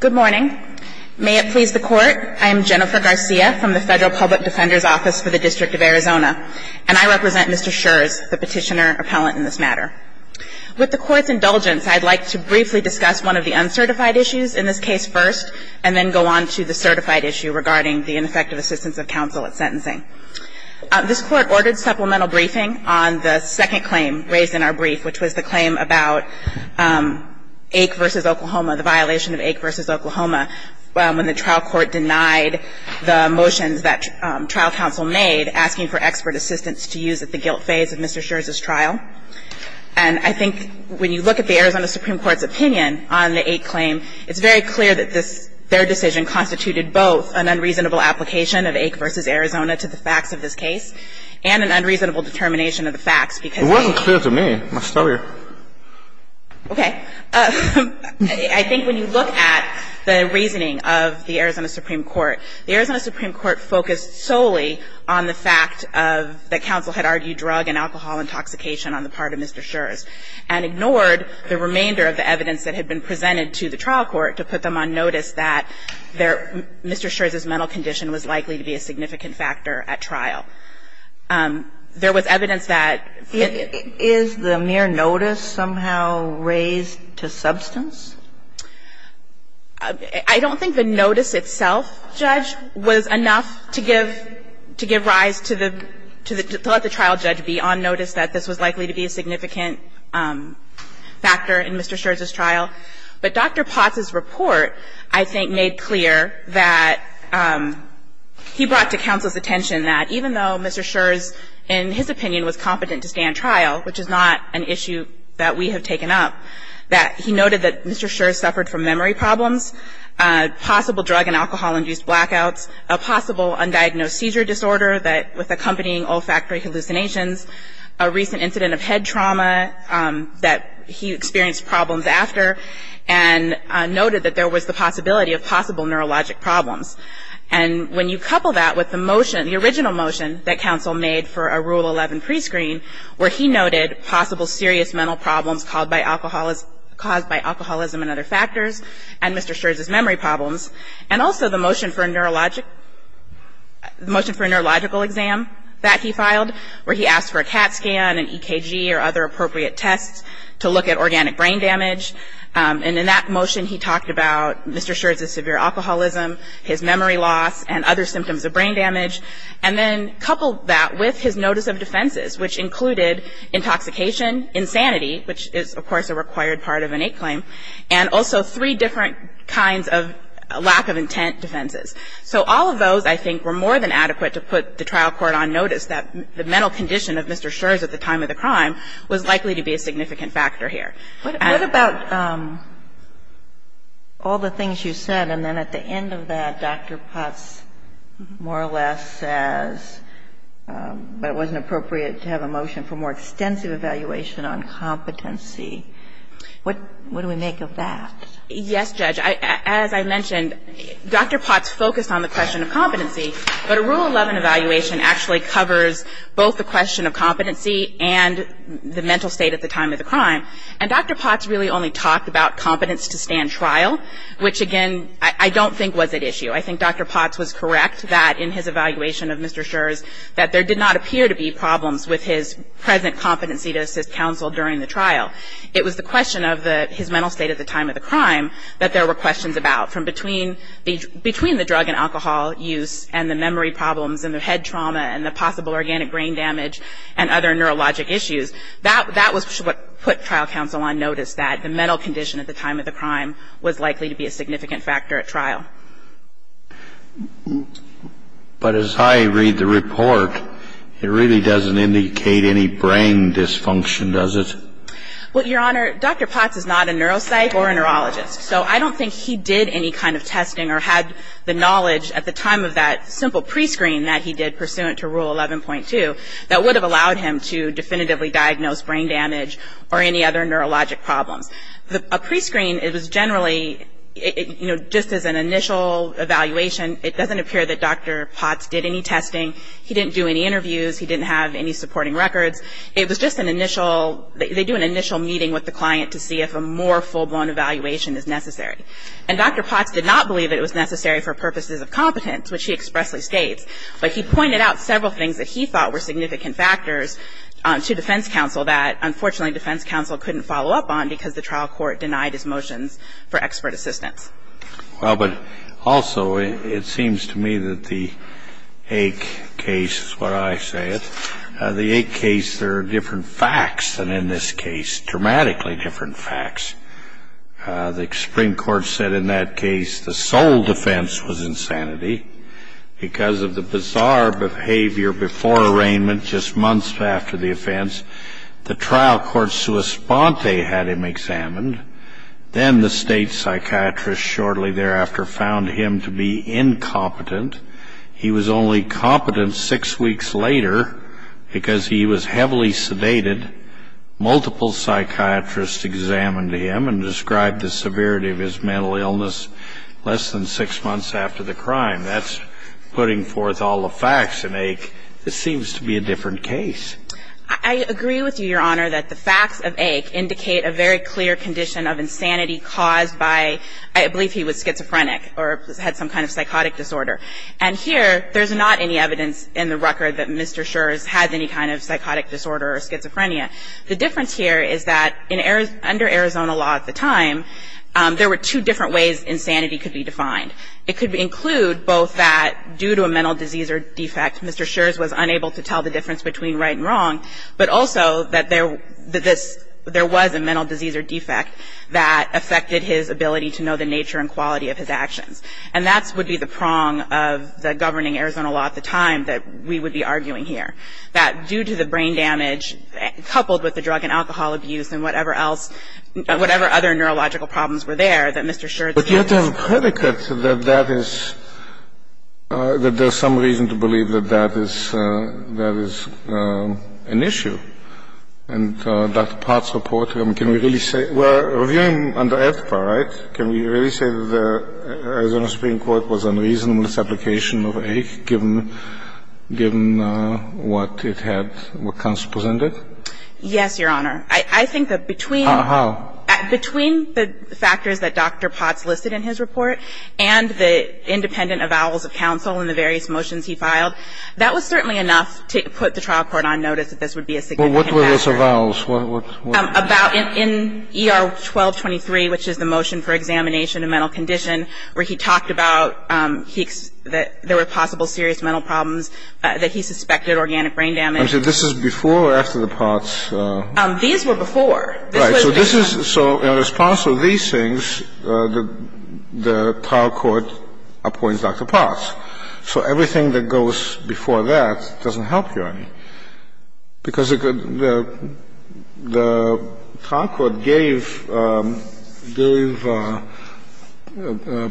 Good morning. May it please the Court, I am Jennifer Garcia from the Federal Public Defender's Office for the District of Arizona, and I represent Mr. Schurz, the petitioner appellant in this matter. With the Court's indulgence, I'd like to briefly discuss one of the uncertified issues in this case first, and then go on to the certified issue regarding the ineffective assistance of counsel at sentencing. This Court ordered supplemental briefing on the second claim raised in our brief, which was the claim about Ake v. Oklahoma, the violation of Ake v. Oklahoma, when the trial court denied the motions that trial counsel made asking for expert assistance to use at the guilt phase of Mr. Schurz's trial. And I think when you look at the Arizona Supreme Court's opinion on the Ake claim, it's very clear that this — their decision constituted both an unreasonable application of Ake v. Arizona to the facts of this case and an unreasonable determination of the facts, because the — It wasn't clear to me. I'm going to start here. Okay. I think when you look at the reasoning of the Arizona Supreme Court, the Arizona Supreme Court, when you look at the Arizona Supreme Court's opinion on the Ake claim, to the trial court on the part of Mr. Schurz, and ignored the remainder of the evidence that had been presented to the trial court to put them on notice that Mr. Schurz's mental condition was likely to be a significant factor at trial. There was evidence that — Is the mere notice somehow raised to substance? I don't think the notice itself, Judge, was enough to give — to give rise to the — to let the trial judge be on notice that this was likely to be a significant factor in Mr. Schurz's trial. But Dr. Potts's report, I think, made clear that he brought to counsel's attention that even though Mr. Schurz, in his opinion, was competent to stand trial, which is not an issue that we have taken up, that he noted that Mr. Schurz suffered from memory problems, possible drug and alcohol-induced blackouts, a possible undiagnosed seizure disorder with accompanying olfactory hallucinations, a recent incident of head trauma that he experienced problems after, and noted that there was the possibility of possible neurologic problems. And when you couple that with the motion, the original motion that counsel made for a Rule 11 prescreen, where he noted possible serious mental problems caused by alcoholism and other factors and Mr. Schurz's memory problems, and also the motion for a neurological exam that he filed, where he asked for a CAT scan, an EKG, or other appropriate tests to look at organic brain damage. And in that motion, he talked about Mr. Schurz's severe alcoholism, his memory loss, and other symptoms of brain damage, and then coupled that with his notice of defenses, which included intoxication, insanity, which is, of course, a required part of an 8 claim, and also three different kinds of lack of intent defenses. So all of those, I think, were more than adequate to put the trial court on notice that the mental condition of Mr. Schurz at the time of the crime was likely to be a significant factor here. What about all the things you said, and then at the end of that, Dr. Potts more or less says that it wasn't appropriate to have a motion for more extensive evaluation on competency. What do we make of that? Yes, Judge. As I mentioned, Dr. Potts focused on the question of competency, but a Rule 11 evaluation actually covers both the question of competency and the mental state at the time of the crime. And Dr. Potts really only talked about competence to stand trial, which, again, I don't think was at issue. I think Dr. Potts was correct that in his evaluation of Mr. Schurz that there did not appear to be problems with his present competency to assist counsel during the trial. It was the question of his mental state at the time of the crime that there were questions about, from between the drug and alcohol use and the memory problems and the head trauma and the possible organic brain damage and other neurologic issues. That was what put trial counsel on notice, that the mental condition at the time of the crime was likely to be a significant factor at trial. But as I read the report, it really doesn't indicate any brain dysfunction, does it? Well, Your Honor, Dr. Potts is not a neuropsych or a neurologist, so I don't think he did any kind of testing or had the knowledge at the time of that simple prescreen that he did pursuant to Rule 11.2 that would have allowed him to definitively diagnose brain damage or any other neurologic problems. A prescreen, it was generally, you know, just as an initial evaluation, it doesn't appear that Dr. Potts did any testing. He didn't do any interviews. He didn't have any supporting records. It was just an initial, they do an initial meeting with the client to see if a more full-blown evaluation is necessary. And Dr. Potts did not believe that it was necessary for purposes of competence, which he expressly states. But he pointed out several things that he thought were significant factors to defense counsel that, unfortunately, defense counsel couldn't follow up on because the trial court denied his motions for expert assistance. Well, but also, it seems to me that the AIC case is what I say it. The AIC case, there are different facts than in this case, dramatically different facts. The Supreme Court said in that case the sole defense was insanity because of the bizarre behavior before arraignment, just months after the offense. The trial court sua sponte had him examined. Then the state psychiatrist shortly thereafter found him to be incompetent. He was only competent six weeks later because he was heavily sedated. Multiple psychiatrists examined him and described the severity of his mental illness less than six months after the crime. That's putting forth all the facts in AIC. This seems to be a different case. I agree with you, Your Honor, that the facts of AIC indicate a very clear condition of insanity caused by, I believe he was schizophrenic or had some kind of psychotic disorder. And here, there's not any evidence in the record that Mr. Scherz had any kind of psychotic disorder or schizophrenia. The difference here is that under Arizona law at the time, there were two different ways insanity could be defined. It could include both that due to a mental disease or defect, Mr. Scherz was unable to tell the difference between right and wrong, but also that there was a mental disease or defect that affected his ability to know the nature and quality of his actions. And that would be the prong of the governing Arizona law at the time, that we would be arguing here, that due to the brain damage, coupled with the drug and alcohol abuse and whatever else, whatever other neurological problems were there, that Mr. Scherz had this. But you have to have a predicate that that is, that there's some reason to believe that that is an issue. And that part's reported. I mean, can we really say? We're reviewing under FPA, right? Can we really say that the Arizona Supreme Court was unreasonable in its application of AIC given what it had, what counsel presented? Yes, Your Honor. I think that between. How? Between the factors that Dr. Potts listed in his report and the independent avowals of counsel in the various motions he filed, that was certainly enough to put the trial court on notice that this would be a significant factor. Well, what were those avowals? About in ER 1223, which is the motion for examination of mental condition, where he talked about that there were possible serious mental problems, that he suspected organic brain damage. So this is before or after the Potts? These were before. Right. So this is. So in response to these things, the trial court appoints Dr. Potts. So everything that goes before that doesn't help, Your Honor. Because the trial court gave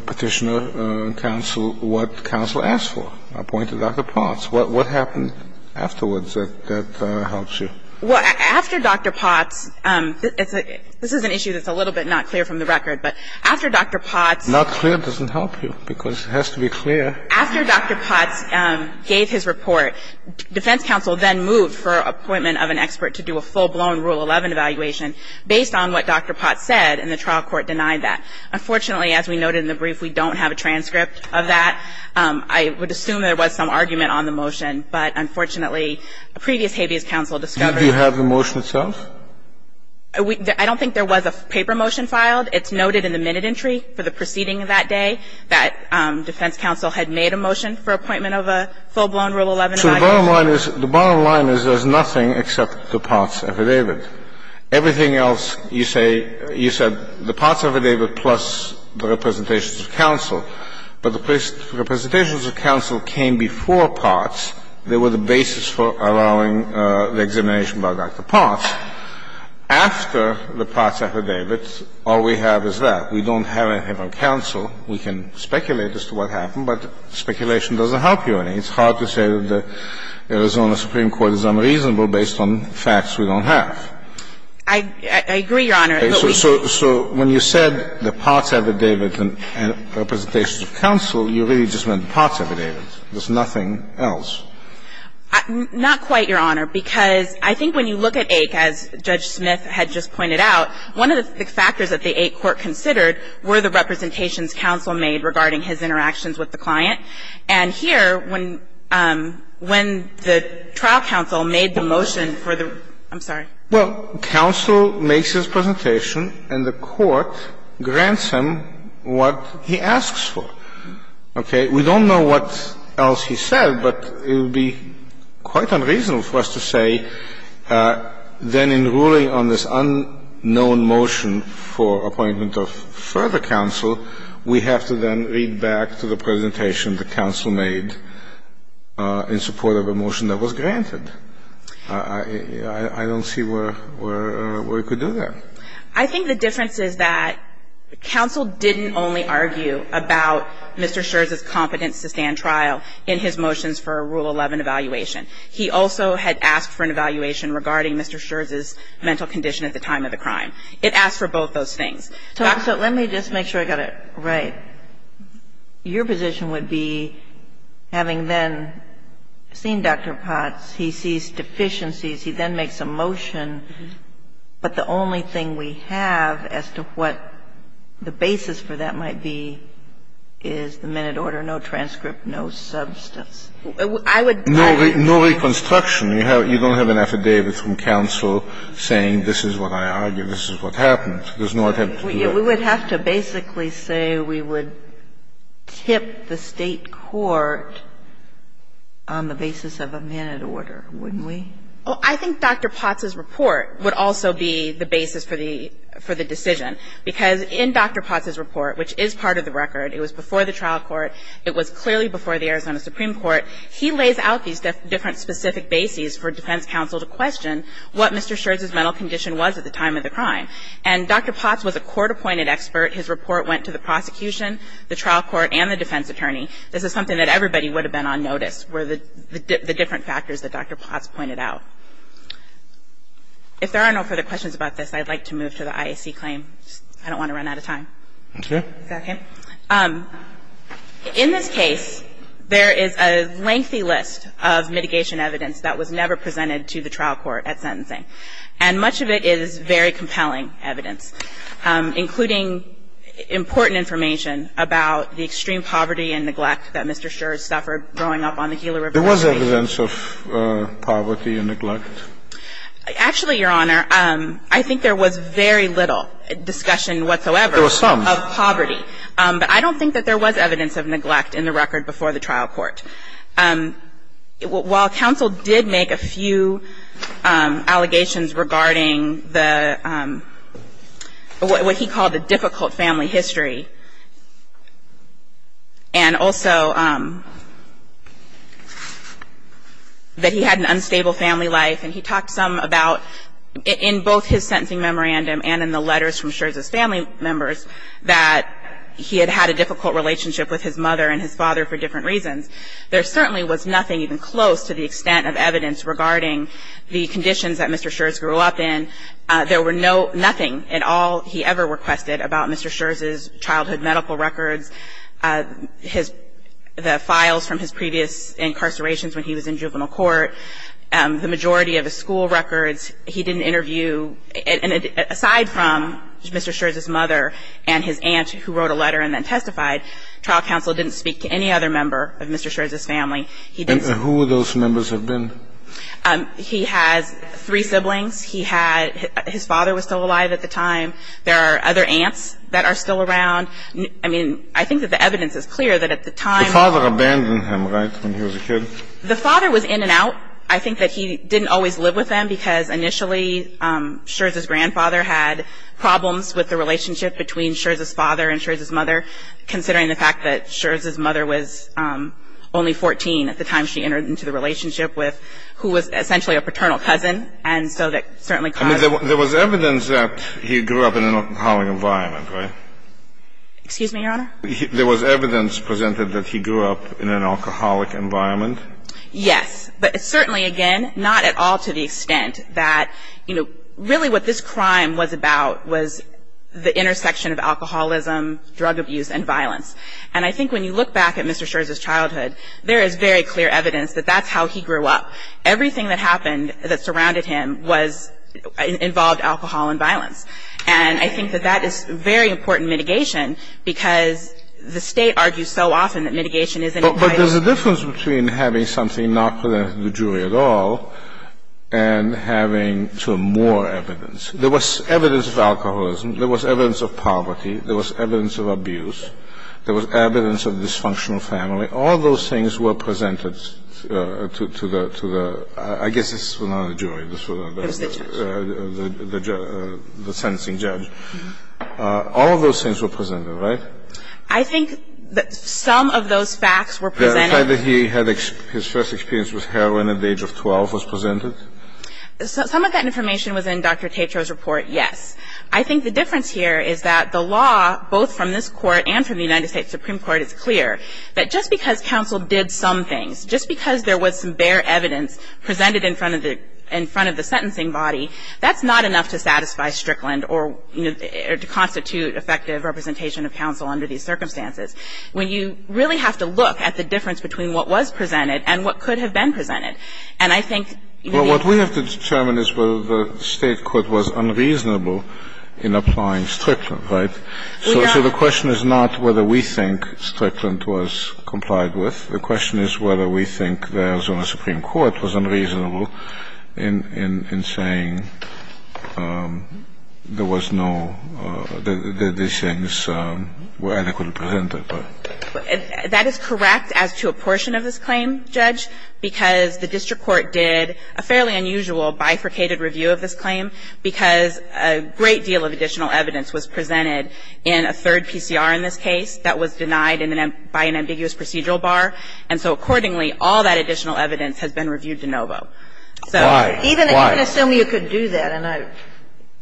Petitioner counsel what counsel asked for, appointed Dr. Potts. What happened afterwards that helps you? Well, after Dr. Potts, this is an issue that's a little bit not clear from the record, but after Dr. Potts. Not clear doesn't help you, because it has to be clear. After Dr. Potts gave his report, defense counsel then moved for appointment of an expert to do a full-blown Rule 11 evaluation based on what Dr. Potts said, and the trial court denied that. Unfortunately, as we noted in the brief, we don't have a transcript of that. I would assume there was some argument on the motion, but unfortunately, a previous habeas counsel discovered. Did you have the motion itself? I don't think there was a paper motion filed. It's noted in the minute entry for the proceeding that day that defense counsel had made a motion for appointment of a full-blown Rule 11 evaluation. So the bottom line is, the bottom line is there's nothing except the Potts affidavit. Everything else you say, you said the Potts affidavit plus the representations of counsel. But the representations of counsel came before Potts. They were the basis for allowing the examination by Dr. Potts. After the Potts affidavit, all we have is that. We don't have a habeas counsel. We can speculate as to what happened, but speculation doesn't help you any. It's hard to say that the Arizona Supreme Court is unreasonable based on facts we don't have. I agree, Your Honor. So when you said the Potts affidavit and representations of counsel, you really just meant the Potts affidavit. There's nothing else. Not quite, Your Honor, because I think when you look at AIC, as Judge Smith had just pointed out, one of the factors that the AIC court considered were the representations counsel made regarding his interactions with the client. And here, when the trial counsel made the motion for the ---- I'm sorry. Well, counsel makes his presentation, and the court grants him what he asks for. Okay. We don't know what else he said, but it would be quite unreasonable for us to say then in ruling on this unknown motion for appointment of further counsel, we have to then read back to the presentation the counsel made in support of a motion that was granted. I don't see where we could do that. I think the difference is that counsel didn't only argue about Mr. Scherz's competence to stand trial in his motions for a Rule 11 evaluation. He also had asked for an evaluation regarding Mr. Scherz's mental condition at the time of the crime. It asked for both those things. So let me just make sure I got it right. Your position would be, having then seen Dr. Potts, he sees deficiencies, he then makes a motion, but the only thing we have as to what the basis for that might be is the minute order, no transcript, no substance. I would ---- No reconstruction. You don't have an affidavit from counsel saying this is what I argued, this is what happened. There's no attempt to do that. We would have to basically say we would tip the State court on the basis of a minute order, wouldn't we? Well, I think Dr. Potts's report would also be the basis for the decision. Because in Dr. Potts's report, which is part of the record, it was before the trial court, it was clearly before the Arizona Supreme Court, he lays out these different specific bases for defense counsel to question what Mr. Scherz's mental condition was at the time of the crime. And Dr. Potts was a court-appointed expert. His report went to the prosecution, the trial court, and the defense attorney. This is something that everybody would have been on notice were the different factors that Dr. Potts pointed out. If there are no further questions about this, I'd like to move to the IAC claim. I don't want to run out of time. Okay. Is that okay? In this case, there is a lengthy list of mitigation evidence that was never presented to the trial court at sentencing. And much of it is very compelling evidence, including important information about the extreme poverty and neglect that Mr. Scherz suffered growing up on the Gila River Basin. There was evidence of poverty and neglect? Actually, Your Honor, I think there was very little discussion whatsoever. There was some. Of poverty. But I don't think that there was evidence of neglect in the record before the trial court. While counsel did make a few allegations regarding the what he called the difficult family history, and also that he had an unstable family life. And he talked some about in both his sentencing memorandum and in the letters from Scherz's family members that he had had a difficult relationship with his mother and his father for different reasons. There certainly was nothing even close to the extent of evidence regarding the conditions that Mr. Scherz grew up in. There were no ñ nothing at all he ever requested about Mr. Scherz's childhood medical records, his ñ the files from his previous incarcerations when he was in juvenile court, the majority of his school records. He didn't interview ñ aside from Mr. Scherz's mother and his aunt who wrote a letter and then testified, trial counsel didn't speak to any other member of Mr. Scherz's family. And who would those members have been? He has three siblings. He had ñ his father was still alive at the time. There are other aunts that are still around. I mean, I think that the evidence is clear that at the time ñ The father abandoned him, right, when he was a kid? The father was in and out. I think that he didn't always live with them because initially Scherz's grandfather had problems with the relationship between Scherz's father and Scherz's mother, considering the fact that Scherz's mother was only 14 at the time she entered into the relationship with, who was essentially a paternal cousin. And so that certainly caused ñ I mean, there was evidence that he grew up in an alcoholic environment, right? Excuse me, Your Honor? There was evidence presented that he grew up in an alcoholic environment? Yes. But certainly, again, not at all to the extent that, you know, really what this crime was about was the intersection of alcoholism, drug abuse and violence. And I think when you look back at Mr. Scherz's childhood, there is very clear evidence that that's how he grew up. Everything that happened that surrounded him was ñ involved alcohol and violence. And I think that that is very important mitigation because the State argues so often that mitigation isn't quite as ñ But there's a difference between having something not presented to the jury at all and having, sort of, more evidence. There was evidence of alcoholism. There was evidence of poverty. There was evidence of abuse. There was evidence of dysfunctional family. All those things were presented to the ñ I guess this was not a jury. This was not a jury. It was the judge. The sentencing judge. All of those things were presented, right? I think that some of those facts were presented ñ The fact that he had his first experience with heroin at the age of 12 was presented? Some of that information was in Dr. Tatro's report, yes. But just because counsel did some things, just because there was some bare evidence presented in front of the ñ in front of the sentencing body, that's not enough to satisfy Strickland or, you know, to constitute effective representation of counsel under these circumstances when you really have to look at the difference between what was presented and what could have been presented. And I think ñ Well, what we have to determine is whether the State court was unreasonable in applying Strickland, right? So the question is not whether we think Strickland was complied with. The question is whether we think the Arizona Supreme Court was unreasonable in saying there was no ñ that these things were adequately presented. That is correct as to a portion of this claim, Judge, because the district court did a fairly unusual bifurcated review of this claim because a great deal of additional evidence was presented in a third PCR in this case that was denied by an ambiguous procedural bar. And so accordingly, all that additional evidence has been reviewed de novo. So even ñ Why? Why? Even assuming you could do that, and I ñ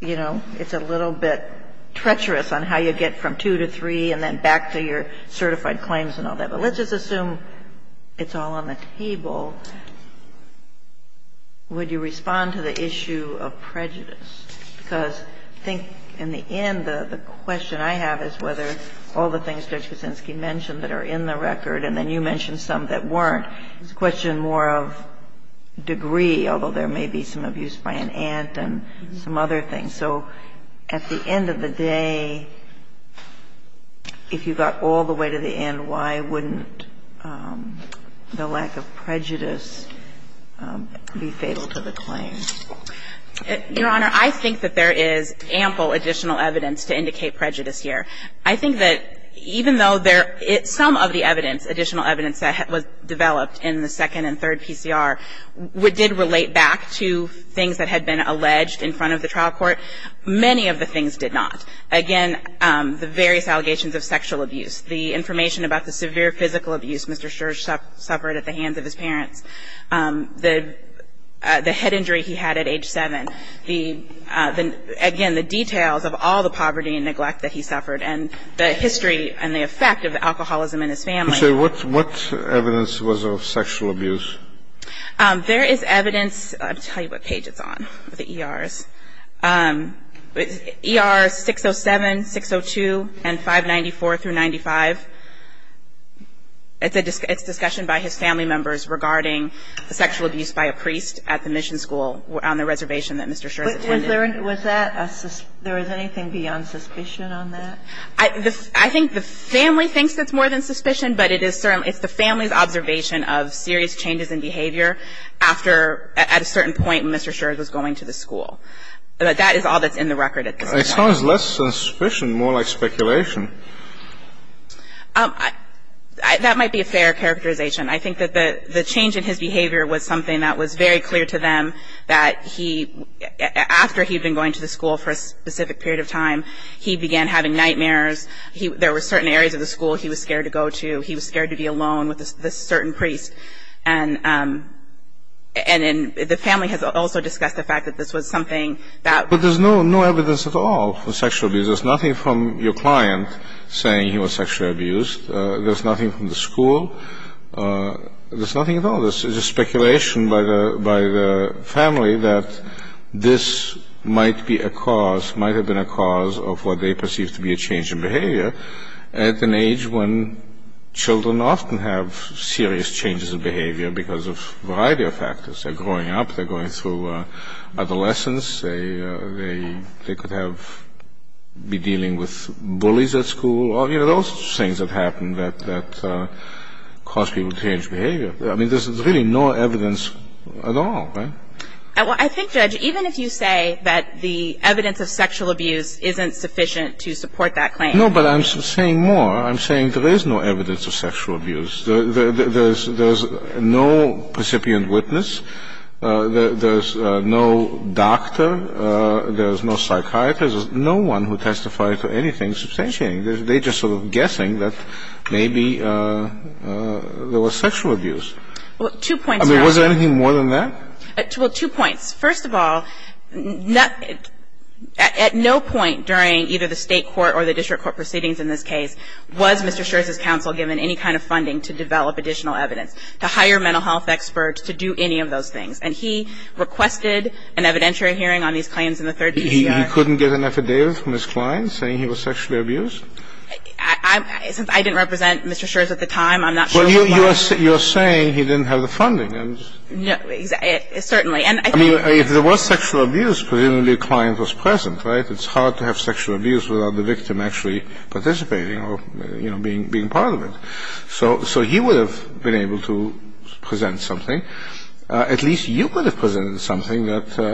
you know, it's a little bit treacherous on how you get from two to three and then back to your certified claims and all But let's just assume it's all on the table. Would you respond to the issue of prejudice? Because I think in the end, the question I have is whether all the things Judge Kuczynski mentioned that are in the record, and then you mentioned some that weren't, is a question more of degree, although there may be some abuse by an aunt and some other things. So at the end of the day, if you got all the way to the end, why wouldn't the lack of prejudice be fatal to the claim? Your Honor, I think that there is ample additional evidence to indicate prejudice here. I think that even though there ñ some of the evidence, additional evidence that was developed in the second and third PCR did relate back to things that had been alleged in front of the trial court. Many of the things did not. Again, the various allegations of sexual abuse, the information about the severe physical abuse Mr. Scherz suffered at the hands of his parents, the head injury he had at age 7, the ñ again, the details of all the poverty and neglect that he suffered, and the history and the effect of alcoholism in his family. So what evidence was of sexual abuse? There is evidence ñ I'll tell you what page it's on, the ERs. ER 607, 602, and 594 through 95. It's a ñ it's discussion by his family members regarding the sexual abuse by a priest at the mission school on the reservation that Mr. Scherz attended. Was there ñ was that a ñ there was anything beyond suspicion on that? I think the family thinks it's more than suspicion, but it is ñ it's the family's observation of serious changes in behavior after ñ at a certain point when Mr. Scherz was going to the school. But that is all that's in the record at this point. It sounds less than suspicion, more like speculation. That might be a fair characterization. I think that the change in his behavior was something that was very clear to them, that he ñ after he'd been going to the school for a specific period of time, he began having nightmares. There were certain areas of the school he was scared to go to. He was scared to be alone with a certain priest. And the family has also discussed the fact that this was something that ñ But there's no evidence at all for sexual abuse. There's nothing from your client saying he was sexually abused. There's nothing from the school. There's nothing at all. This is a speculation by the family that this might be a cause, might have been a cause of what they perceive to be a change in behavior at an age when serious changes in behavior because of a variety of factors. They're growing up. They're going through adolescence. They could have ñ be dealing with bullies at school. You know, those things that happen that cause people to change behavior. I mean, there's really no evidence at all, right? Well, I think, Judge, even if you say that the evidence of sexual abuse isn't sufficient to support that claim ñ No, but I'm saying more. I'm saying there is no evidence of sexual abuse. There's no recipient witness. There's no doctor. There's no psychiatrist. There's no one who testified to anything substantiating. They're just sort of guessing that maybe there was sexual abuse. Well, two points ñ I mean, was there anything more than that? Well, two points. First of all, at no point during either the State court or the district court proceedings in this case was Mr. Scherz's counsel given any kind of funding to develop additional evidence, to hire mental health experts, to do any of those things. And he requested an evidentiary hearing on these claims in the third PCR. He couldn't get an affidavit from his client saying he was sexually abused? I didn't represent Mr. Scherz at the time. I'm not sure why. Well, you're saying he didn't have the funding. Certainly. I mean, if there was sexual abuse, presumably a client was present, right? It's hard to have sexual abuse without the victim actually participating or, you know, being part of it. So he would have been able to present something. At least you could have presented something that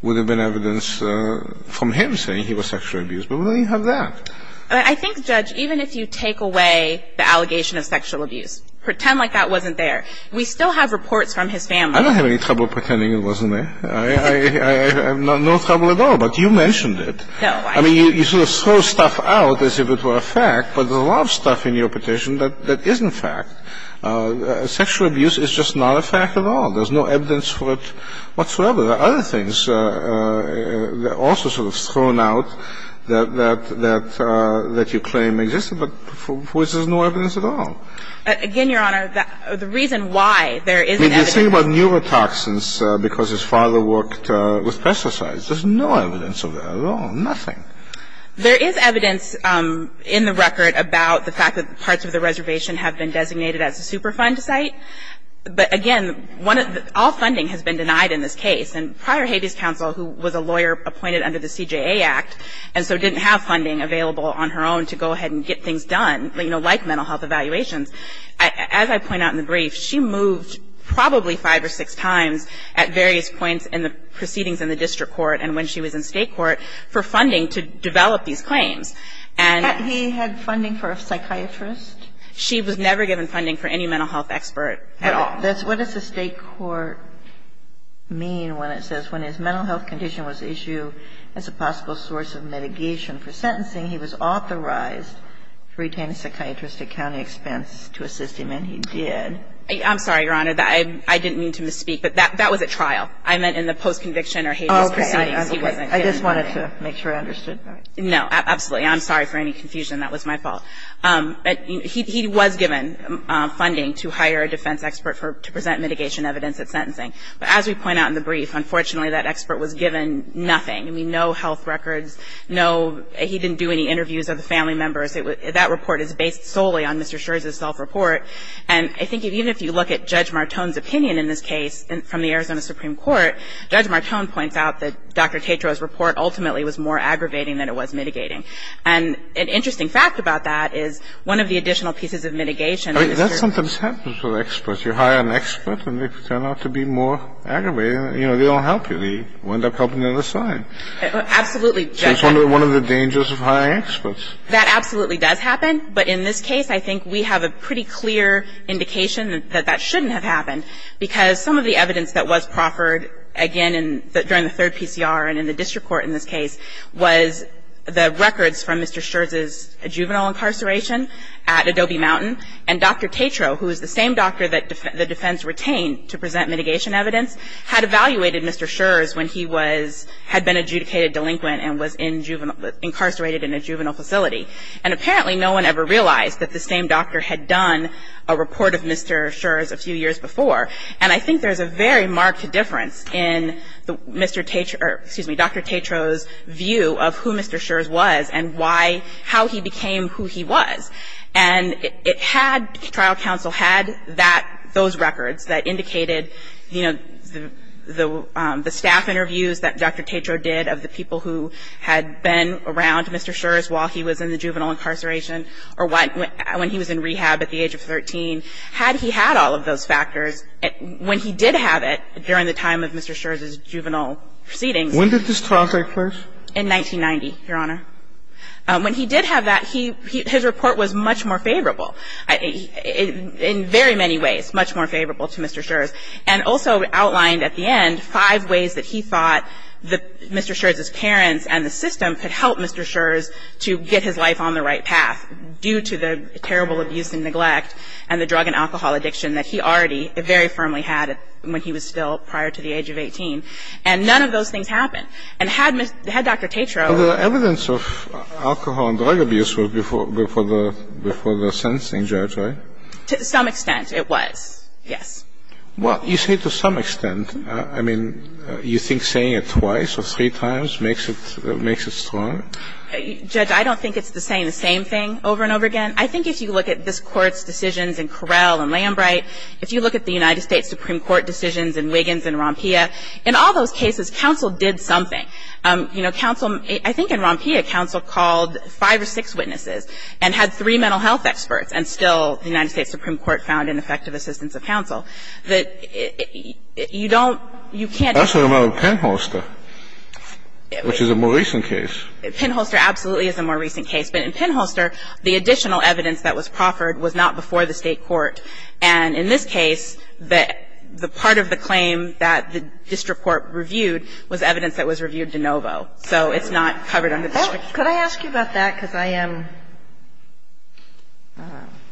would have been evidence from him saying he was sexually abused. But we didn't have that. I think, Judge, even if you take away the allegation of sexual abuse, pretend like that wasn't there, we still have reports from his family. I don't have any trouble pretending it wasn't there. I have no trouble at all. But you mentioned it. No. I mean, you sort of throw stuff out as if it were a fact. But there's a lot of stuff in your petition that isn't fact. Sexual abuse is just not a fact at all. There's no evidence for it whatsoever. There are other things that are also sort of thrown out that you claim exist, but for which there's no evidence at all. Again, Your Honor, the reason why there isn't evidence. I mean, just think about neurotoxins because his father worked with pesticides. There's no evidence of that at all, nothing. There is evidence in the record about the fact that parts of the reservation have been designated as a Superfund site. But, again, all funding has been denied in this case. And prior Habeas Counsel, who was a lawyer appointed under the CJA Act, and so didn't have funding available on her own to go ahead and get things done, you know, like mental health evaluations, as I point out in the brief, she moved probably five or six times at various points in the proceedings in the district court and when she was in state court for funding to develop these claims. And he had funding for a psychiatrist? She was never given funding for any mental health expert at all. What does the state court mean when it says, when his mental health condition was issued as a possible source of mitigation for sentencing, he was authorized to retain a psychiatrist at county expense to assist him, and he did? I'm sorry, Your Honor. I didn't mean to misspeak, but that was at trial. I meant in the post-conviction or Habeas proceedings. Okay. I just wanted to make sure I understood. No, absolutely. I'm sorry for any confusion. That was my fault. He was given funding to hire a defense expert to present mitigation evidence at sentencing. But as we point out in the brief, unfortunately, that expert was given nothing. I mean, no health records. No, he didn't do any interviews of the family members. That report is based solely on Mr. Scherz's self-report. And I think even if you look at Judge Martone's opinion in this case from the Arizona Supreme Court, Judge Martone points out that Dr. Tetrault's report ultimately was more aggravating than it was mitigating. And an interesting fact about that is one of the additional pieces of mitigation. I mean, that sometimes happens with experts. You hire an expert, and they turn out to be more aggravating. You know, they don't help you. They wind up helping the other side. Absolutely. So it's one of the dangers of hiring experts. That absolutely does happen. But in this case, I think we have a pretty clear indication that that shouldn't have happened, because some of the evidence that was proffered, again, during the third PCR and in the district court in this case, was the records from Mr. Scherz's juvenile incarceration at Adobe Mountain. And Dr. Tetrault, who is the same doctor that the defense retained to present mitigation evidence, had evaluated Mr. Scherz when he had been adjudicated delinquent and was incarcerated in a juvenile facility. And apparently no one ever realized that the same doctor had done a report of Mr. Scherz a few years before. And I think there's a very marked difference in Dr. Tetrault's view of who Mr. Scherz was and how he became who he was. And it had, trial counsel had that, those records that indicated, you know, the staff interviews that Dr. Tetrault did of the people who had been around Mr. Scherz while he was in the juvenile incarceration or when he was in rehab at the age of 13. Had he had all of those factors, when he did have it during the time of Mr. Scherz's juvenile proceedings. When did this trial take place? In 1990, Your Honor. When he did have that, his report was much more favorable, in very many ways, much more favorable to Mr. Scherz. And also outlined at the end five ways that he thought Mr. Scherz's parents and the system could help Mr. Scherz to get his life on the right path due to the terrible abuse and neglect and the drug and alcohol addiction that he already very firmly had when he was still prior to the age of 18. And none of those things happened. And had Dr. Tetrault. Well, the evidence of alcohol and drug abuse was before the sentencing, Judge, right? To some extent, it was, yes. Well, you say to some extent. I mean, you think saying it twice or three times makes it strong? Judge, I don't think it's the same thing over and over again. I think if you look at this Court's decisions in Correll and Lambright, if you look at the United States Supreme Court decisions in Wiggins and Rompia, in all those cases, counsel did something. You know, counsel, I think in Rompia, counsel called five or six witnesses and had three mental health experts, and still the United States Supreme Court found ineffective assistance of counsel. You don't, you can't. That's what happened with Penholster, which is a more recent case. Penholster absolutely is a more recent case, but in Penholster, the additional evidence that was proffered was not before the State court. And in this case, the part of the claim that the district court reviewed was evidence that was reviewed de novo. So it's not covered under the district court. Could I ask you about that? Because I am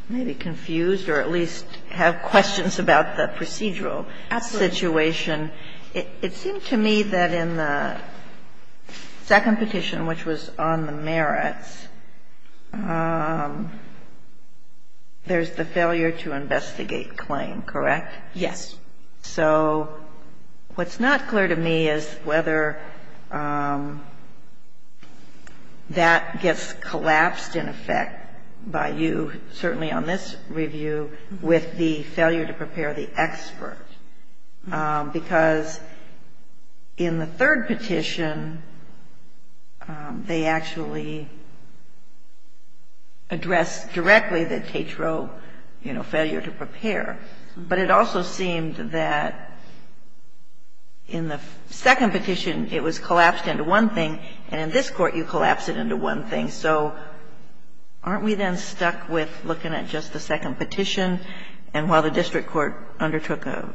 maybe confused or at least have questions about the procedural situation. Absolutely. It seemed to me that in the second petition, which was on the merits, there's the failure to investigate claim, correct? Yes. So what's not clear to me is whether that gets collapsed, in effect, by you, certainly on this review, with the failure to prepare the expert. Because in the third petition, they actually addressed directly the TATRO, you know, failure to prepare. But it also seemed that in the second petition, it was collapsed into one thing, and in this Court, you collapse it into one thing. So aren't we then stuck with looking at just the second petition, and while the district court undertook a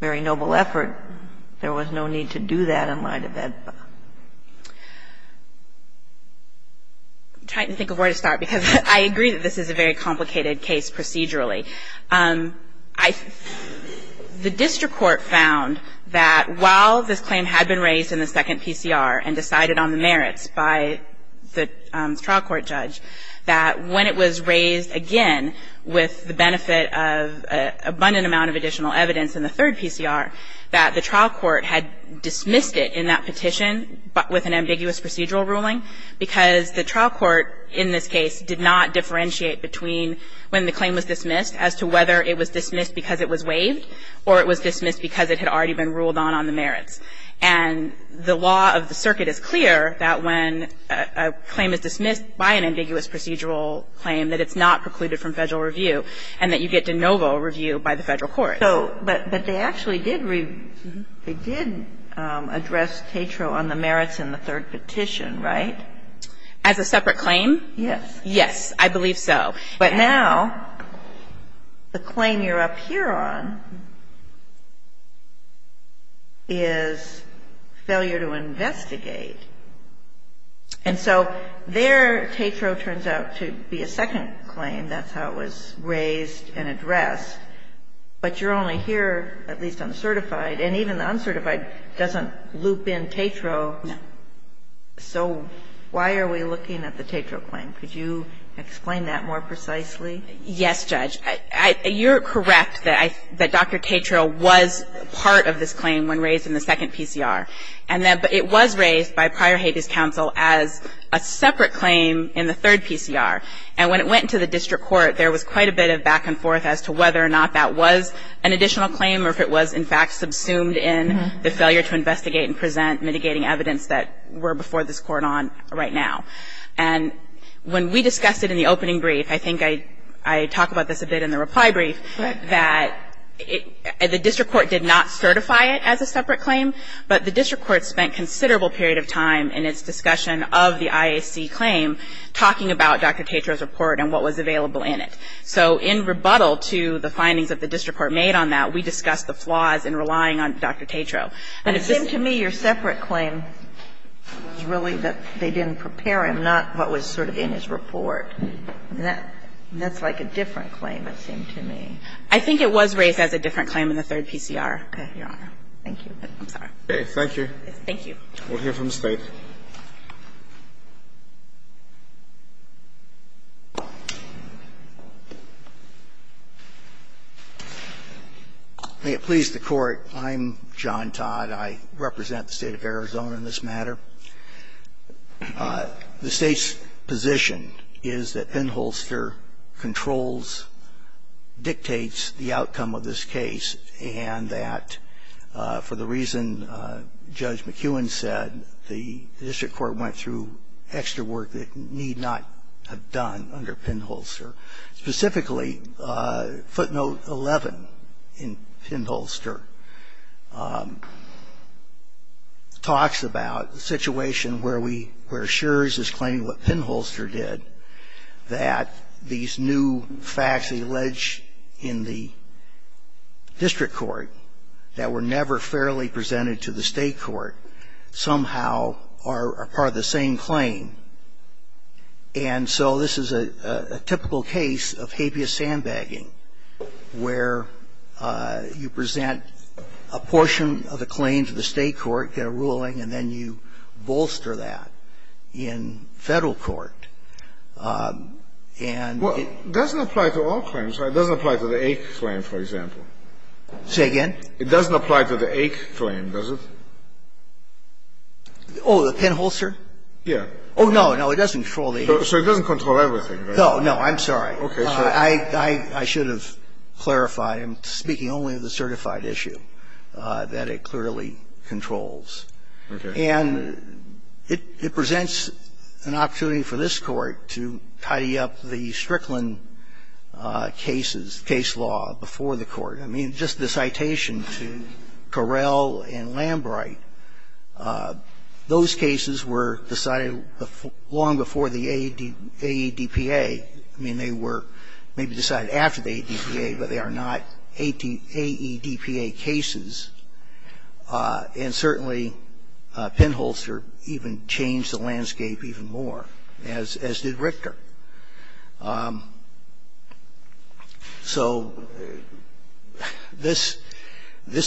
very noble effort, there was no need to do that in light of that? I'm trying to think of where to start, because I agree that this is a very complicated case procedurally. The district court found that while this claim had been raised in the second PCR and decided on the merits by the trial court judge, that when it was raised again with the benefit of abundant amount of additional evidence in the third PCR, that the trial court had dismissed it in that petition, but with an ambiguous procedural ruling, because the trial court in this case did not differentiate between when the claim was dismissed as to whether it was dismissed because it was waived or it was dismissed because it had already been ruled on on the merits. And the law of the circuit is clear that when a claim is dismissed by an ambiguous procedural claim, that it's not precluded from Federal review and that you get de novo review by the Federal court. But they actually did address TATRO on the merits in the third petition, right? As a separate claim? Yes. Yes, I believe so. But now the claim you're up here on is failure to investigate. And so there TATRO turns out to be a second claim. That's how it was raised and addressed. But you're only here, at least on the certified. And even the uncertified doesn't loop in TATRO. No. So why are we looking at the TATRO claim? Could you explain that more precisely? Yes, Judge. You're correct that Dr. TATRO was part of this claim when raised in the second PCR. And it was raised by prior habeas counsel as a separate claim in the third PCR. And when it went to the district court, there was quite a bit of back and forth as to whether or not that was an additional claim or if it was, in fact, subsumed in the failure to investigate and present mitigating evidence that were before this Court on right now. And when we discussed it in the opening brief, I think I talk about this a bit in the reply brief, that the district court did not certify it as a separate claim, but the district court spent considerable period of time in its discussion of the IAC claim talking about Dr. TATRO's report and what was available in it. So in rebuttal to the findings that the district court made on that, we discussed the flaws in relying on Dr. TATRO. And it seemed to me your separate claim was really that they didn't prepare him, not what was sort of in his report. And that's like a different claim, it seemed to me. I think it was raised as a different claim in the third PCR, Your Honor. Thank you. I'm sorry. Thank you. Thank you. We'll hear from the State. May it please the Court. I'm John Todd. I represent the State of Arizona in this matter. The State's position is that Penholster controls, dictates the outcome of this case, and that for the reason Judge McEwen said, the district court went through extra work that it need not have done under Penholster. Specifically, footnote 11 in Penholster talks about the situation where we, where Schurz is claiming what Penholster did, that these new facts alleged in the district court that were never fairly presented to the State court somehow are part of the same claim. And so this is a typical case of habeas sandbagging, where you present a portion of the claim to the State court, get a ruling, and then you bolster that in Federal court. And it doesn't apply to all claims. It doesn't apply to the A claim, for example. Say again? It doesn't apply to the A claim, does it? Oh, the Penholster? Yes. Oh, no, no. It doesn't control the A. So it doesn't control everything, right? No, no. I'm sorry. Okay. Sure. I should have clarified. I'm speaking only of the certified issue that it clearly controls. Okay. And it presents an opportunity for this Court to tidy up the Strickland cases, case law before the Court. I mean, just the citation to Correll and Lambright, those cases were decided long before the AEDPA. I mean, they were maybe decided after the AEDPA, but they are not AEDPA cases. And certainly Penholster even changed the landscape even more, as did Richter. So this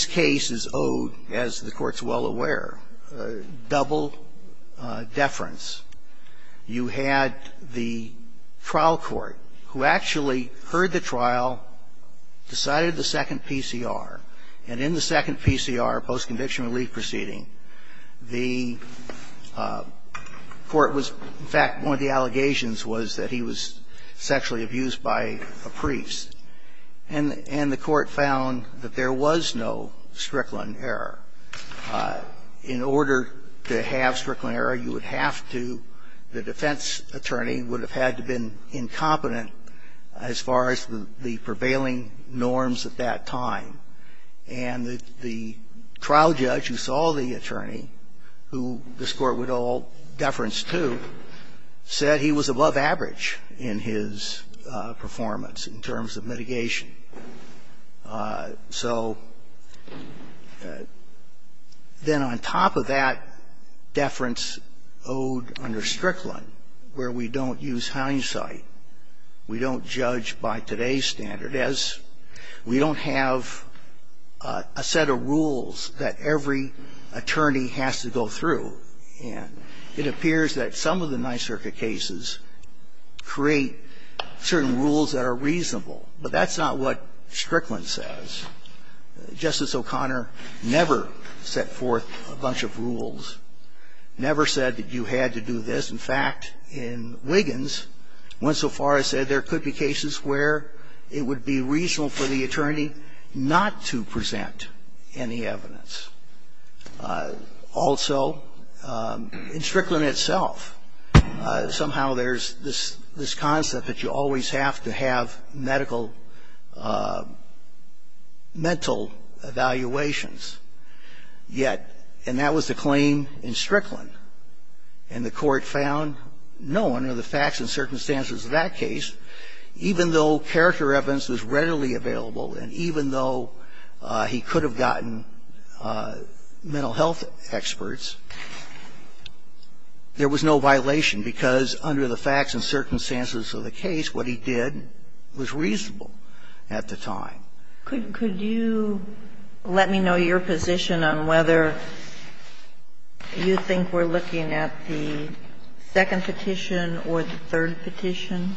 case is owed, as the Court's well aware, double deference. You had the trial court who actually heard the trial, decided the second PCR, and in the second PCR, post-conviction relief proceeding, the court was, in fact, one of the allegations was that he was sexually abused by a priest. And the court found that there was no Strickland error. In order to have Strickland error, you would have to, the defense attorney would have had to have been incompetent as far as the prevailing norms at that time. And the trial judge who saw the attorney, who this Court would owe deference to, said he was above average in his performance in terms of mitigation. So then on top of that deference owed under Strickland, where we don't use hindsight, we don't judge by today's standard, as we don't have a set of rules that every attorney has to go through. And it appears that some of the Ninth Circuit cases create certain rules that are reasonable, but that's not what Strickland says. Justice O'Connor never set forth a bunch of rules, never said that you had to do this. In fact, in Wiggins, when so far as said there could be cases where it would be reasonable for the attorney not to present any evidence. Also, in Strickland itself, somehow there's this concept that you always have to have medical, mental evaluations, yet, and that was the claim in Strickland. And the Court found no, under the facts and circumstances of that case, even though character evidence was readily available and even though he could have gotten mental health experts, there was no violation, because under the facts and circumstances of the case, what he did was reasonable at the time. Could you let me know your position on whether you think we're looking at the second petition or the third petition?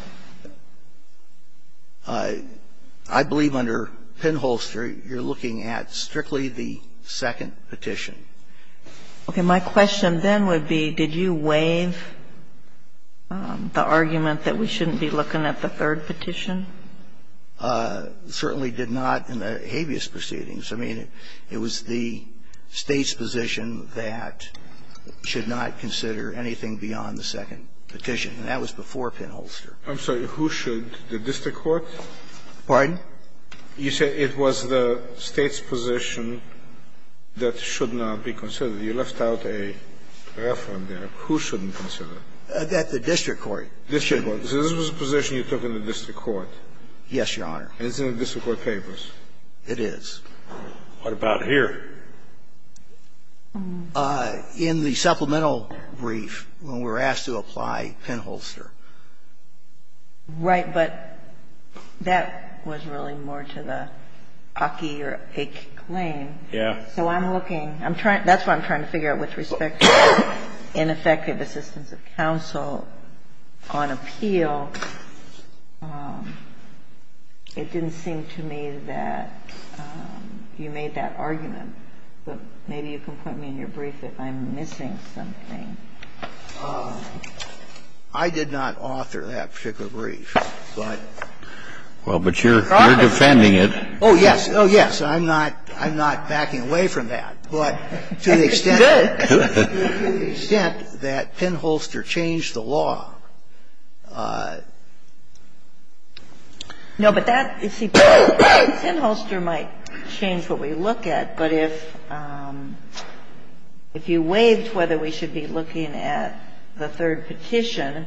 I believe under Penholster, you're looking at strictly the second petition. Okay. My question then would be, did you waive the argument that we shouldn't be looking at the third petition? Certainly did not in the habeas proceedings. I mean, it was the State's position that should not consider anything beyond the second petition, and that was before Penholster. I'm sorry. Who should? The district court? Pardon? You say it was the State's position that should not be considered. You left out a referent there. Who shouldn't consider it? That the district court should. So this was a position you took in the district court? Yes, Your Honor. And it's in the district court papers? It is. What about here? In the supplemental brief, when we were asked to apply Penholster. Right. But that was really more to the Aki or Ake claim. Yeah. So I'm looking. I'm trying to – that's what I'm trying to figure out with respect to ineffective assistance of counsel on appeal. It didn't seem to me that you made that argument. But maybe you can point me in your brief that I'm missing something. I did not author that particular brief. Well, but you're defending it. Oh, yes. Oh, yes. I'm not backing away from that. But to the extent that Penholster changed the law. No, but that, you see, Penholster might change what we look at. But if you waived whether we should be looking at the third petition,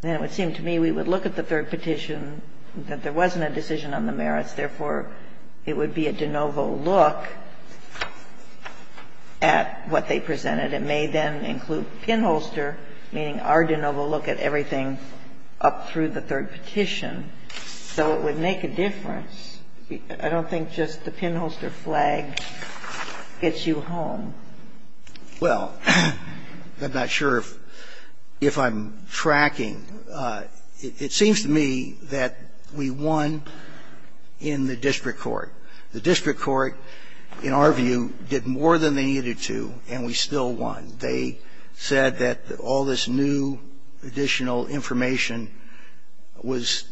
then it would seem to me we would look at the third petition, that there wasn't a decision on the merits. Therefore, it would be a de novo look at what they presented. It may then include Penholster, meaning our de novo look at everything up through the third petition. So it would make a difference. I don't think just the Penholster flag gets you home. Well, I'm not sure if I'm tracking. It seems to me that we won in the district court. The district court, in our view, did more than they needed to, and we still won. They said that all this new additional information was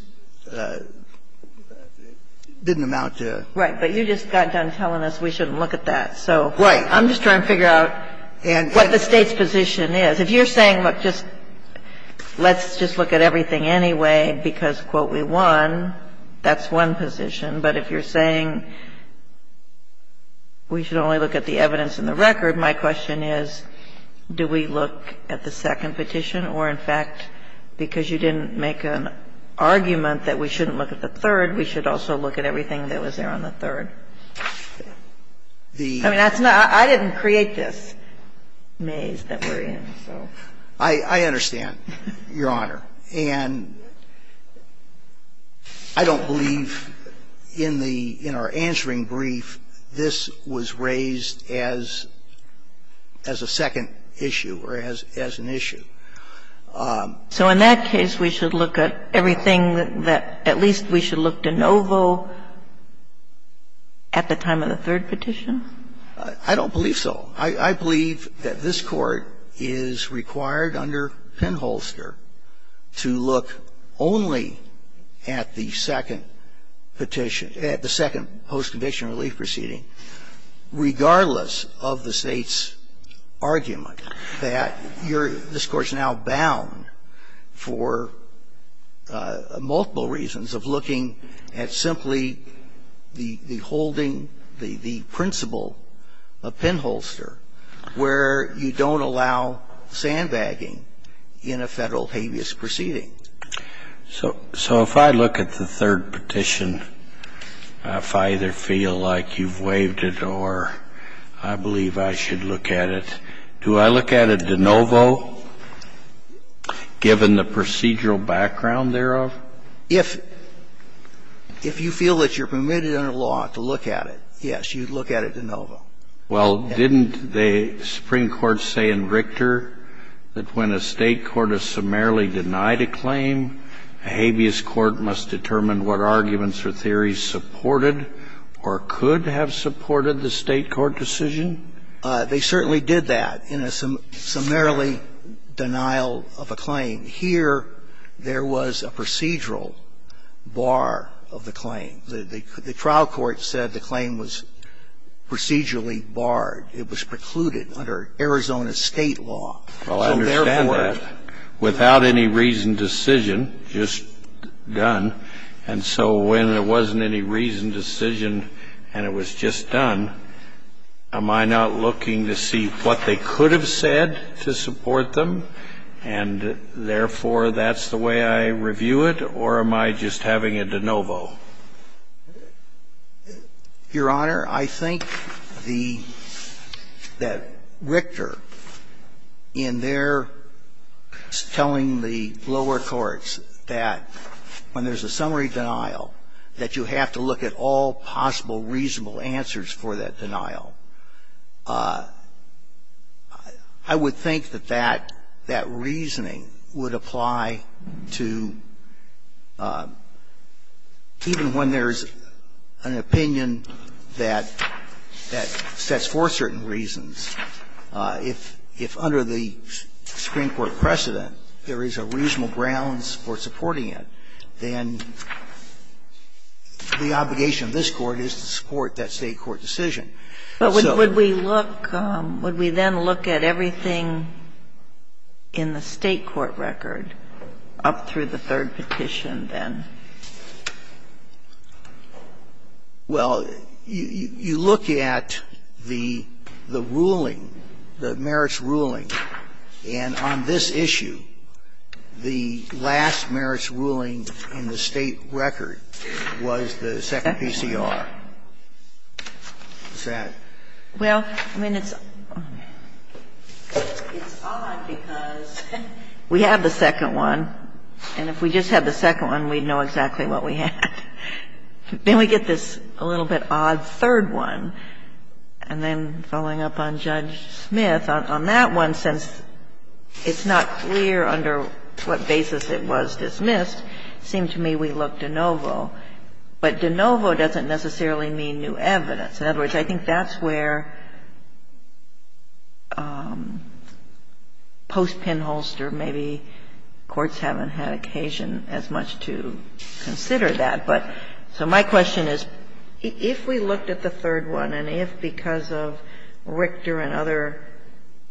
didn't amount to. Right. But you just got done telling us we shouldn't look at that. So I'm just trying to figure out what the State's position is. If you're saying, look, just let's just look at everything anyway because, quote, we won, that's one position. But if you're saying we should only look at the evidence in the record, my question is, do we look at the second petition or, in fact, because you didn't make an argument that we shouldn't look at the third, we should also look at everything that was there on the third? I mean, that's not – I didn't create this maze that we're in, so. I understand, Your Honor. And I don't believe in the – in our answering brief, this was raised as a second issue or as an issue. So in that case, we should look at everything that – at least we should look de novo at the time of the third petition? I don't believe so. I believe that this Court is required under Penholster to look only at the second petition – the second post-conviction relief proceeding, regardless of the State's argument that you're – this Court's now bound for multiple reasons of looking at simply the holding, the principle of Penholster, where you don't allow sandbagging in a Federal habeas proceeding. So if I look at the third petition, if I either feel like you've waived it or I believe I should look at it, do I look at it de novo, given the procedural background thereof? If you feel that you're permitted under law to look at it, yes, you'd look at it de novo. Well, didn't the Supreme Court say in Richter that when a State court has summarily denied a claim, a habeas court must determine what arguments or theories supported or could have supported the State court decision? They certainly did that in a summarily denial of a claim. Here, there was a procedural bar of the claim. The trial court said the claim was procedurally barred. It was precluded under Arizona State law. So therefore – Well, I understand that. Without any reasoned decision, just done, and so when there wasn't any reasoned decision and it was just done, am I not looking to see what they could have said to support them, and therefore that's the way I review it, or am I just having it de novo? Your Honor, I think the – that Richter, in their telling the lower courts that when there's a summary denial, that you have to look at all possible reasonable answers for that denial. I would think that that – that reasoning would apply to even when there's an opinion that sets forth certain reasons. If under the Supreme Court precedent there is a reasonable grounds for supporting it, then the obligation of this Court is to support that State court decision. But would we look – would we then look at everything in the State court record up through the third petition then? Well, you look at the ruling, the merits ruling. And on this issue, the last merits ruling in the State record was the second PCR. Is that? Well, I mean, it's odd because we have the second one, and if we just had the second one, we'd know exactly what we had. Then we get this a little bit odd third one, and then following up on Judge Smith, on that one, since it's not clear under what basis it was dismissed, it seemed to me we look de novo. But de novo doesn't necessarily mean new evidence. In other words, I think that's where post-pinholster maybe courts haven't had occasion as much to consider that. But so my question is, if we looked at the third one, and if because of Richter and other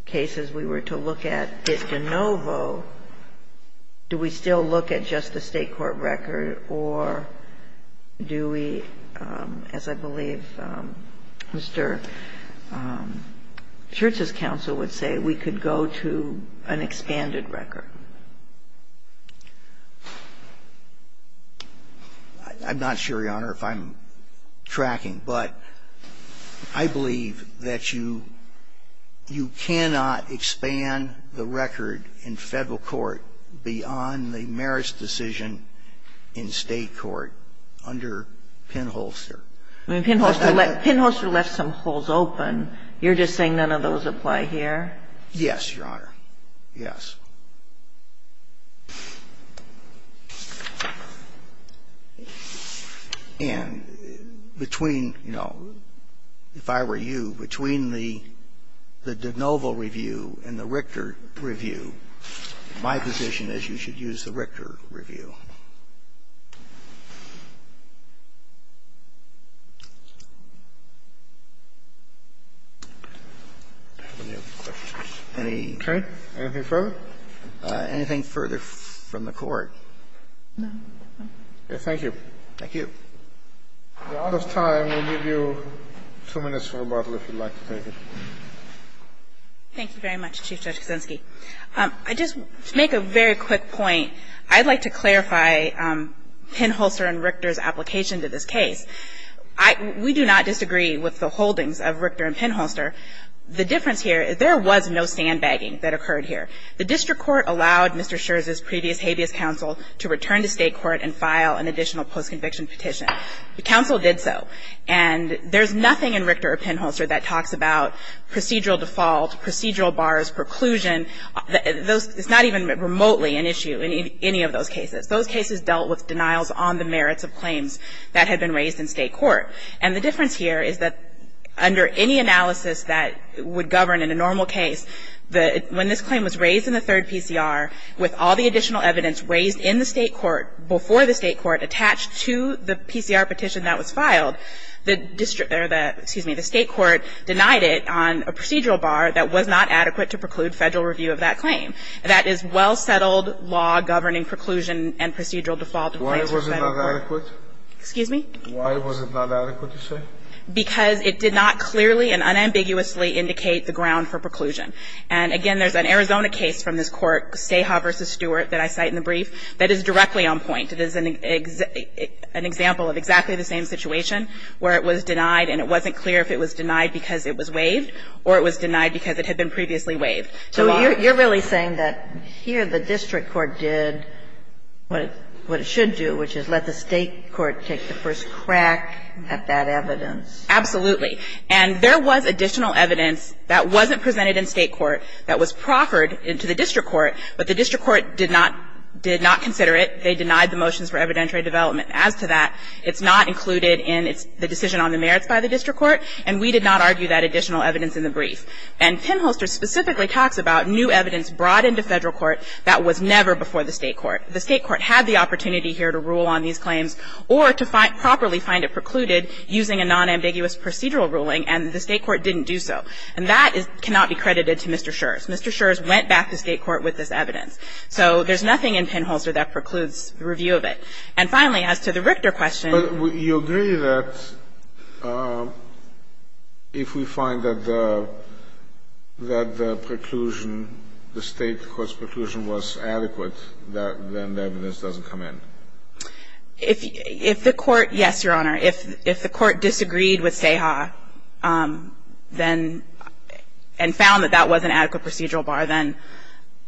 cases we were to look at it de novo, do we still look at just the State court record, or do we, as I believe Mr. Church's counsel would say, we could go to an expanded record? I'm not sure, Your Honor, if I'm tracking. But I believe that you cannot expand the record in Federal court beyond the merits decision in State court under pinholster. When pinholster left some holes open, you're just saying none of those apply here? Yes, Your Honor. Yes. And between, you know, if I were you, between the de novo review and the Richter review, my position is you should use the Richter review. Any other questions? Okay. Anything further? Anything further from the Court? No. Okay. Thank you. Thank you. We're out of time. We'll give you two minutes for rebuttal if you'd like to take it. Thank you very much, Chief Judge Kuczynski. I'd just make a very quick point. I'd like to clarify pinholster and Richter's application to this case. We do not disagree with the holdings of Richter and pinholster. The difference here is there was no sandbagging that occurred here. The district court allowed Mr. Scherz's previous habeas counsel to return to State court and file an additional postconviction petition. The counsel did so. And there's nothing in Richter or pinholster that talks about procedural default, procedural bars, preclusion. It's not even remotely an issue in any of those cases. Those cases dealt with denials on the merits of claims that had been raised in State court. And the difference here is that under any analysis that would govern in a normal case, when this claim was raised in the third PCR with all the additional evidence raised in the State court before the State court attached to the PCR petition that was filed, the district or the State court denied it on a procedural bar that was not adequate to preclude Federal review of that claim. That is well-settled law governing preclusion and procedural default. Why was it not adequate? Excuse me? Why was it not adequate, you say? Because it did not clearly and unambiguously indicate the ground for preclusion. And again, there's an Arizona case from this court, Ceja v. Stewart, that I cite in the brief, that is directly on point. It is an example of exactly the same situation where it was denied and it wasn't clear if it was denied because it was waived or it was denied because it had been previously waived. So you're really saying that here the district court did what it should do, which is let the State court take the first crack at that evidence. Absolutely. And there was additional evidence that wasn't presented in State court that was proffered into the district court, but the district court did not consider it. They denied the motions for evidentiary development. As to that, it's not included in the decision on the merits by the district court, and we did not argue that additional evidence in the brief. And Penholster specifically talks about new evidence brought into Federal court that was never before the State court. The State court had the opportunity here to rule on these claims or to properly find it precluded using a nonambiguous procedural ruling, and the State court didn't do so. And that cannot be credited to Mr. Scherz. Mr. Scherz went back to State court with this evidence. So there's nothing in Penholster that precludes review of it. And finally, as to the Richter question. But you agree that if we find that the preclusion, the State court's preclusion was adequate, then the evidence doesn't come in? If the court, yes, Your Honor. If the court disagreed with Seha, then, and found that that was an adequate procedural bar, then,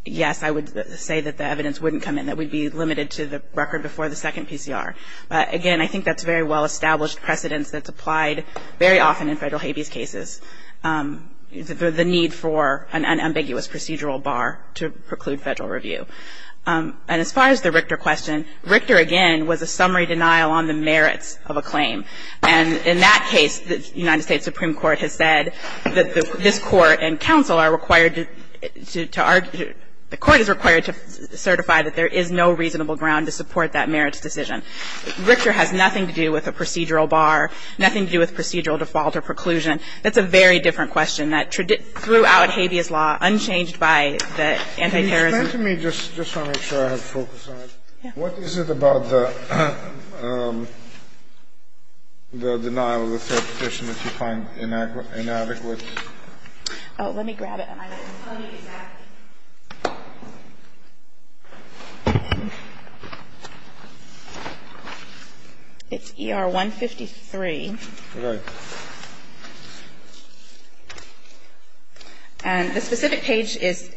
yes, I would say that the evidence wouldn't come in. It would be limited to the record before the second PCR. But, again, I think that's a very well-established precedence that's applied very often in Federal habeas cases, the need for an unambiguous procedural bar to preclude Federal review. And as far as the Richter question, Richter, again, was a summary denial on the merits of the claim. And in that case, the United States Supreme Court has said that this Court and counsel are required to argue, the Court is required to certify that there is no reasonable ground to support that merits decision. Richter has nothing to do with a procedural bar, nothing to do with procedural default or preclusion. That's a very different question that throughout habeas law, unchanged by the anti-terrorism Can you explain to me, just to make sure I have focus on it, what is it about the denial of the third petition that you find inadequate? Oh, let me grab it and I can tell you exactly. It's ER-153. Okay. And the specific page is,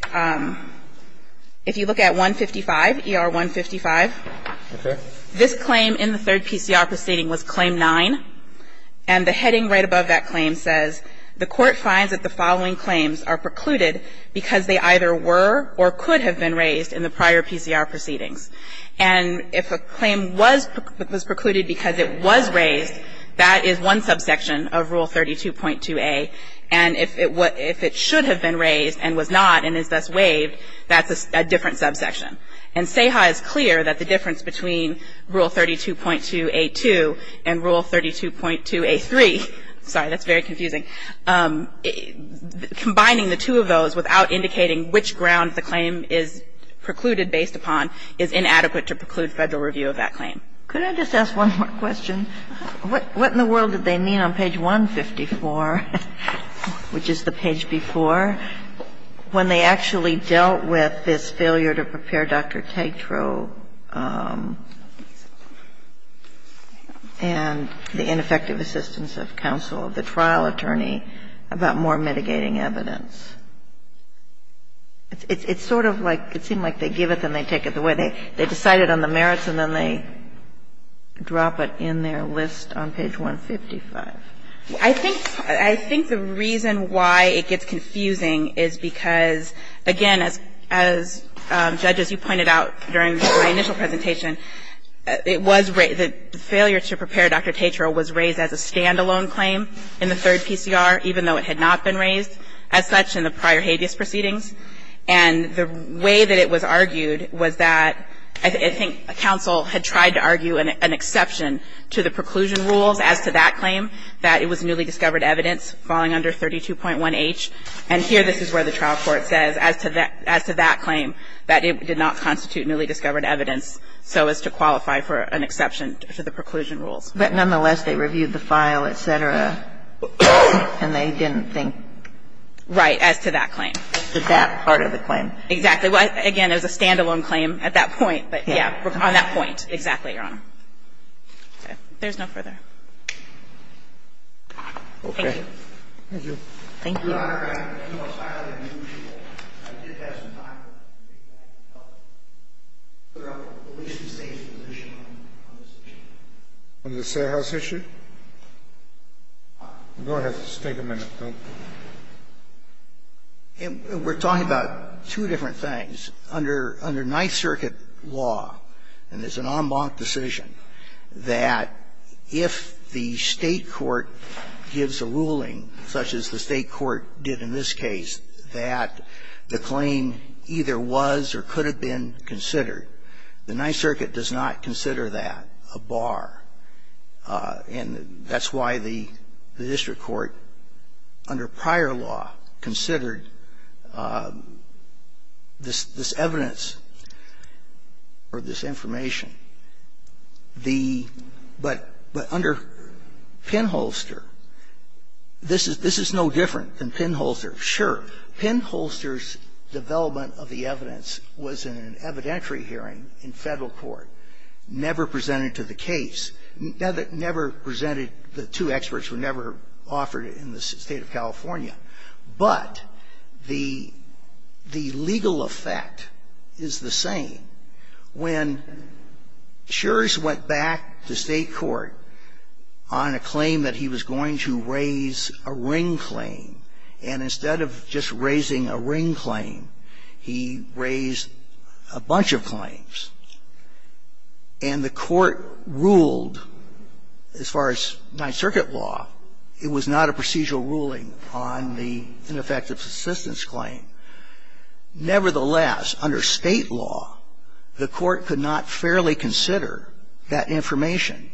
if you look at 155, ER-155. Okay. This claim in the third PCR proceeding was Claim 9. And the heading right above that claim says, The Court finds that the following claims are precluded because they either were or could have been raised in the prior PCR proceedings. And if a claim was precluded because it was raised, that is one subsection of Rule 32.2a. And if it should have been raised and was not and is thus waived, that's a different subsection. And Seha is clear that the difference between Rule 32.2a.2 and Rule 32.2a.3 Sorry, that's very confusing. Combining the two of those without indicating which ground the claim is precluded based upon is inadequate to preclude Federal review of that claim. Could I just ask one more question? What in the world did they mean on page 154, which is the page before, when they actually dealt with this failure to prepare Dr. Tetreault and the ineffective assistance of counsel of the trial attorney about more mitigating evidence? It's sort of like it seemed like they give it and they take it away. They decided on the merits and then they drop it in their list on page 155. I think the reason why it gets confusing is because, again, as judges, you pointed out during my initial presentation, it was the failure to prepare Dr. Tetreault was raised as a standalone claim in the third PCR, even though it had not been raised as such in the prior habeas proceedings. And the way that it was argued was that I think counsel had tried to argue an exception to the preclusion rules as to that claim, that it was newly discovered evidence falling under 32.1h. And here this is where the trial court says, as to that claim, that it did not constitute newly discovered evidence so as to qualify for an exception to the preclusion rules. But nonetheless, they reviewed the file, et cetera, and they didn't think? Right, as to that claim. As to that part of the claim. Exactly. Well, again, it was a standalone claim at that point, but, yeah, on that point. Exactly, Your Honor. Okay. There's no further. Thank you. Thank you. Thank you. Your Honor, I have no file to review. I did have some time, but I can take that and help. Could I have the police and state's position on this issue? On the Statehouse issue? Go ahead. Just take a minute. We're talking about two different things. Under Ninth Circuit law, and it's an en banc decision, that if the State court gives a ruling, such as the State court did in this case, that the claim either was or could have been considered, the Ninth Circuit does not consider that a bar. And that's why the district court, under prior law, considered this evidence or this information. The — but under Pinholster, this is no different than Pinholster. Sure, Pinholster's development of the evidence was in an evidentiary hearing in Federal court, never presented to the case, never presented — the two experts were never offered in the State of California. But the legal effect is the same. When Shures went back to State court on a claim that he was going to raise a ring claims, and the court ruled, as far as Ninth Circuit law, it was not a procedural ruling on the ineffective assistance claim, nevertheless, under State law, the court could not fairly consider that information.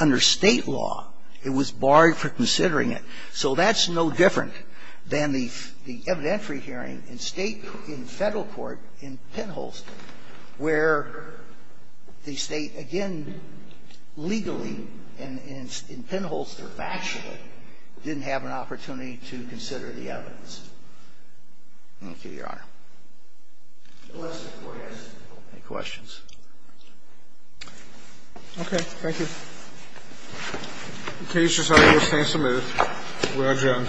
Under State law, it was barred for considering it. So that's no different than the evidentiary hearing in State — in Federal court in Pinholster, where the State, again, legally, in Pinholster factually, didn't have an opportunity to consider the evidence. Thank you, Your Honor. Any questions? Roberts. Okay. Thank you. The case is now in a stand-to-move. We are adjourned.